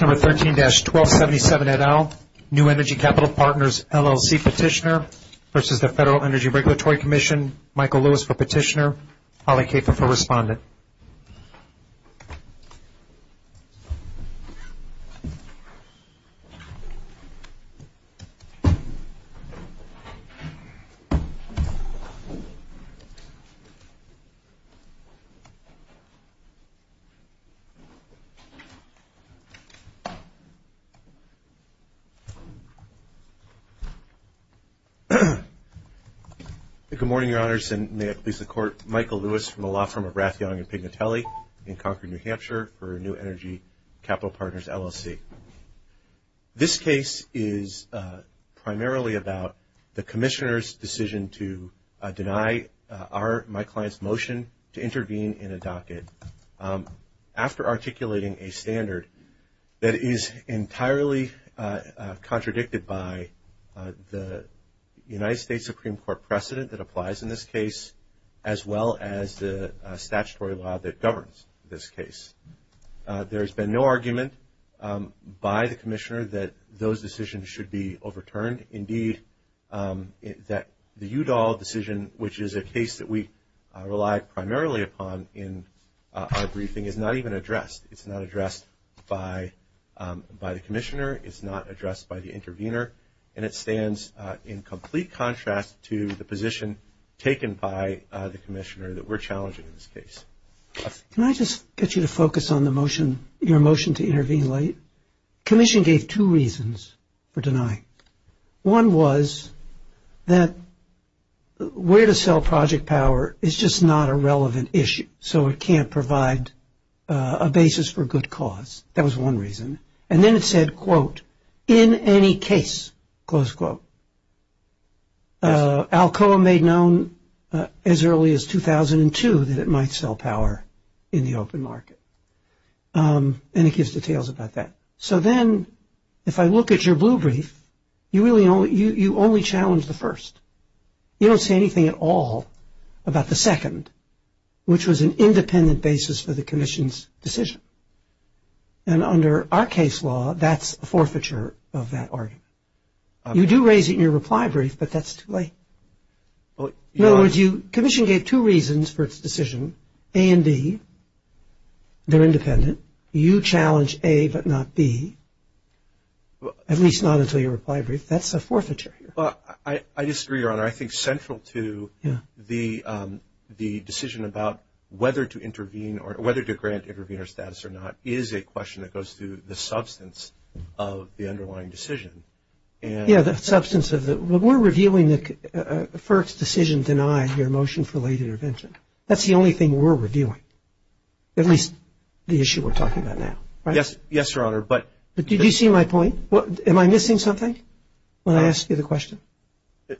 Number 13-1277 et al, New Energy Capital Partners, LLC petitioner versus the Federal Energy Regulatory Commission, Michael Lewis for petitioner, Holly Kafer for respondent. Good morning, Your Honors, and may it please the Court. Michael Lewis from the law firm of Rathiong and Pignatelli in Concord, New Hampshire for New Energy Capital Partners, LLC. This case is primarily about the commissioner's decision to deny my client's motion to intervene in a docket. After articulating a standard that is entirely contradicted by the United States Supreme Court precedent that applies in this case, as well as the statutory law that governs this case. There has been no argument by the commissioner that those decisions should be overturned. Indeed, that the Udall decision, which is a case that we rely primarily upon in our briefing, is not even addressed. It's not addressed by the commissioner. It's not addressed by the intervener. And it stands in complete contrast to the position taken by the commissioner that we're challenging in this case. Can I just get you to focus on the motion, your motion to intervene late? Commission gave two reasons for denying. One was that where to sell project power is just not a relevant issue, so it can't provide a basis for good cause. That was one reason. And then it said, quote, in any case, close quote. Alcoa made known as early as 2002 that it might sell power in the open market. And it gives details about that. So then if I look at your blue brief, you only challenge the first. You don't say anything at all about the second, which was an independent basis for the commission's decision. And under our case law, that's a forfeiture of that argument. You do raise it in your reply brief, but that's too late. In other words, commission gave two reasons for its decision, A and B. They're independent. You challenge A but not B, at least not until your reply brief. That's a forfeiture here. I disagree, Your Honor. I think central to the decision about whether to intervene or whether to grant intervener status or not is a question that goes through the substance of the underlying decision. Yeah, the substance of it. We're reviewing the first decision denied, your motion for late intervention. That's the only thing we're reviewing, at least the issue we're talking about now, right? Yes, Your Honor. But did you see my point? Am I missing something when I ask you the question?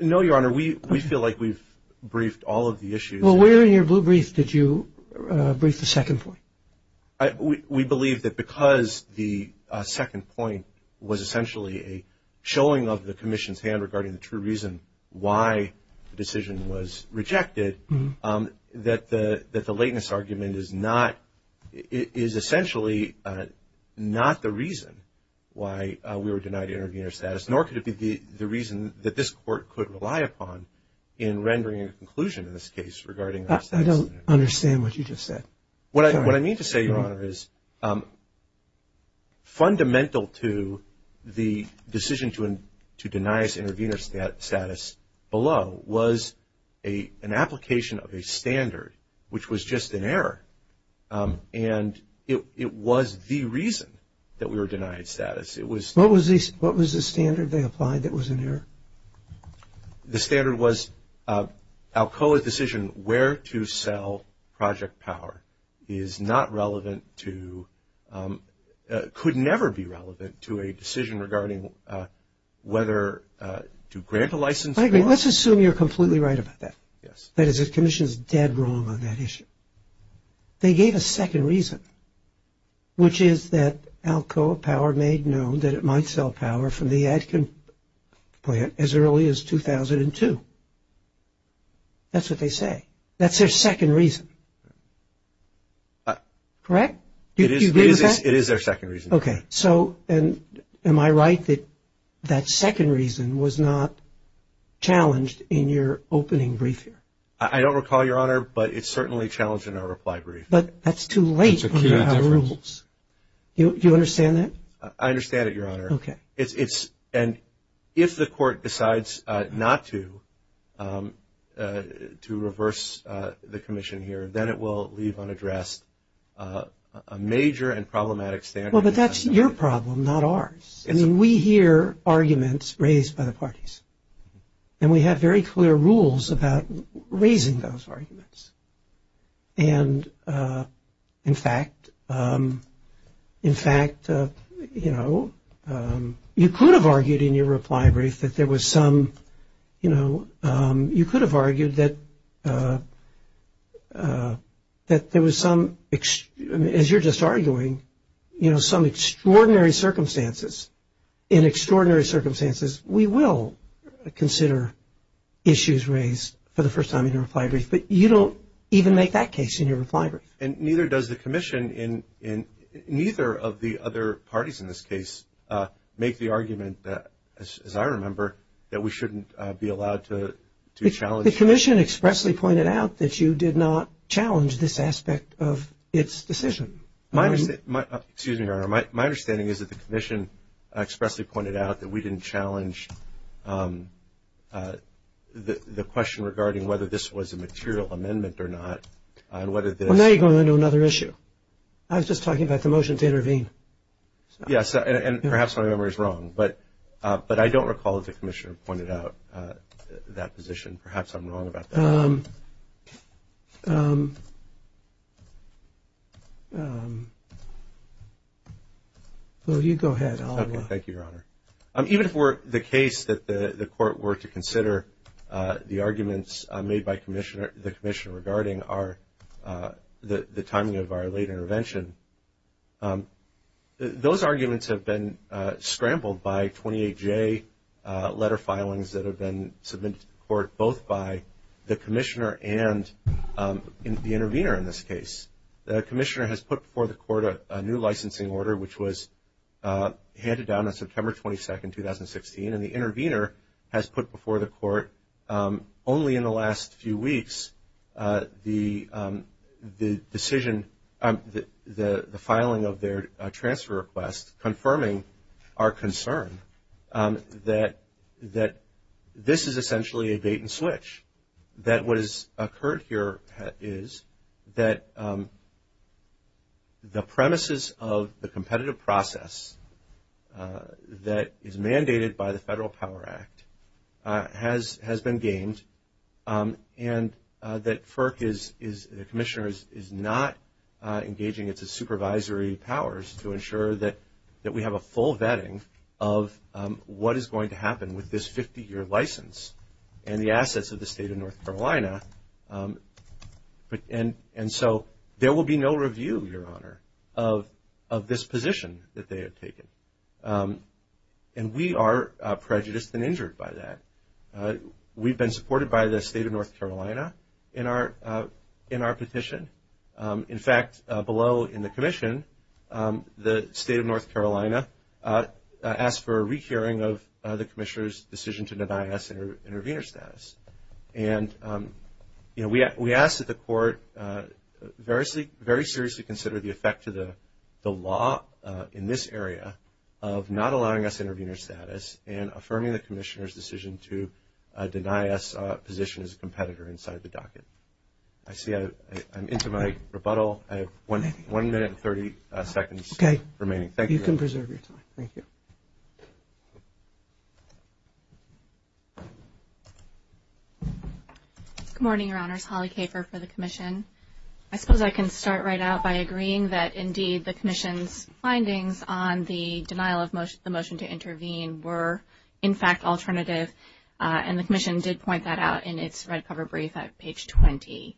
No, Your Honor. We feel like we've briefed all of the issues. Well, where in your blue brief did you brief the second point? We believe that because the second point was essentially a showing of the commission's hand regarding the true reason why the decision was rejected, that the lateness argument is not – is essentially not the reason why we were denied intervener status, nor could it be the reason that this Court could rely upon in rendering a conclusion in this case regarding that status. I don't understand what you just said. What I mean to say, Your Honor, is fundamental to the decision to deny us intervener status below was an application of a standard, which was just an error, and it was the reason that we were denied status. What was the standard they applied that was an error? The standard was Alcoa's decision where to sell Project Power is not relevant to – could never be relevant to a decision regarding whether to grant a license or not. Let's assume you're completely right about that. Yes. That is, the commission is dead wrong on that issue. They gave a second reason, which is that Alcoa Power made known that it might sell Power from the Adkin plant as early as 2002. That's what they say. That's their second reason. Correct? Do you agree with that? It is their second reason. Okay. So am I right that that second reason was not challenged in your opening brief here? I don't recall, Your Honor, but it's certainly challenged in our reply brief. But that's too late. It's a clear difference. Do you understand that? I understand it, Your Honor. Okay. And if the court decides not to reverse the commission here, then it will leave unaddressed a major and problematic standard. Well, but that's your problem, not ours. I mean, we hear arguments raised by the parties, and we have very clear rules about raising those arguments. And, in fact, you know, you could have argued in your reply brief that there was some, you know, in extraordinary circumstances, we will consider issues raised for the first time in your reply brief. But you don't even make that case in your reply brief. And neither does the commission in neither of the other parties in this case make the argument, as I remember, that we shouldn't be allowed to challenge. The commission expressly pointed out that you did not challenge this aspect of its decision. Excuse me, Your Honor. My understanding is that the commission expressly pointed out that we didn't challenge the question regarding whether this was a material amendment or not. Well, now you're going into another issue. I was just talking about the motion to intervene. Yes, and perhaps my memory is wrong. But I don't recall that the commissioner pointed out that position. Perhaps I'm wrong about that. You go ahead. Thank you, Your Honor. Even for the case that the court were to consider, the arguments made by the commissioner regarding the timing of our late intervention, those arguments have been scrambled by 28J letter filings that have been submitted to the court, both by the commissioner and the intervener in this case. The commissioner has put before the court a new licensing order, which was handed down on September 22, 2016, and the intervener has put before the court only in the last few weeks the decision, the filing of their transfer request confirming our concern that this is essentially a bait and switch, that what has occurred here is that the premises of the competitive process that is mandated by the Federal Power Act has been gained and that FERC, the commissioner, is not engaging its supervisory powers to ensure that we have a full vetting of what is going to happen with this 50-year license and the assets of the state of North Carolina. And so there will be no review, Your Honor, of this position that they have taken. And we are prejudiced and injured by that. We've been supported by the state of North Carolina in our petition. In fact, below in the commission, the state of North Carolina asked for a re-hearing of the commissioner's decision to deny us intervener status. And we ask that the court very seriously consider the effect to the law in this area of not allowing us intervener status and affirming the commissioner's decision to deny us a position as a competitor inside the docket. I see I'm into my rebuttal. I have one minute and 30 seconds remaining. Thank you. You can preserve your time. Thank you. Good morning, Your Honors. Holly Kafer for the commission. I suppose I can start right out by agreeing that, indeed, the commission's findings on the denial of the motion to intervene were, in fact, alternative. And the commission did point that out in its red cover brief at page 20,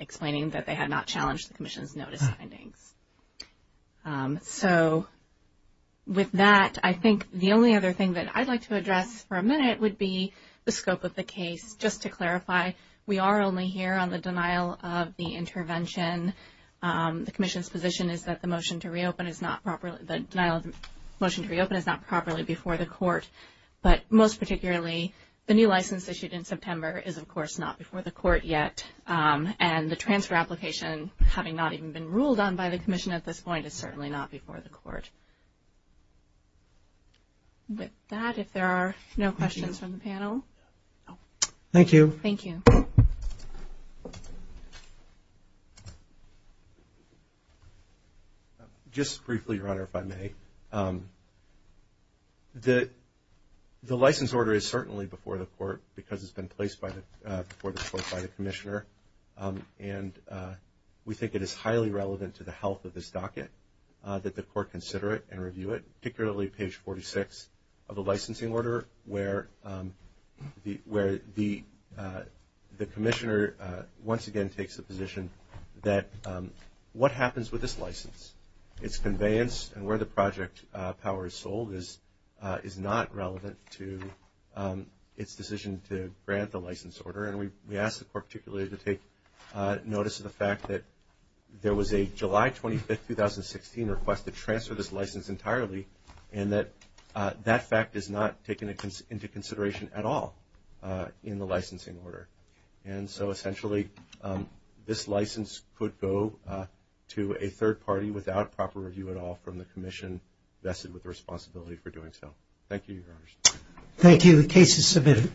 explaining that they had not challenged the commission's notice findings. So with that, I think the only other thing that I'd like to address for a minute would be the scope of the case. Just to clarify, we are only here on the denial of the intervention. The commission's position is that the motion to reopen is not properly before the court. But most particularly, the new license issued in September is, of course, not before the court yet. And the transfer application, having not even been ruled on by the commission at this point, is certainly not before the court. With that, if there are no questions from the panel. Thank you. Thank you. Just briefly, Your Honor, if I may. The license order is certainly before the court because it's been placed before the court by the commissioner. And we think it is highly relevant to the health of this docket that the court consider it and review it, particularly page 46 of the licensing order, where the commissioner once again takes the position that what happens with this license, its conveyance and where the project power is sold is not relevant to its decision to grant the license order. And we ask the court particularly to take notice of the fact that there was a July 25, 2016 request to transfer this license entirely, and that that fact is not taken into consideration at all in the licensing order. And so essentially this license could go to a third party without proper review at all from the commission vested with the responsibility for doing so. Thank you, Your Honor. Thank you. The case is submitted.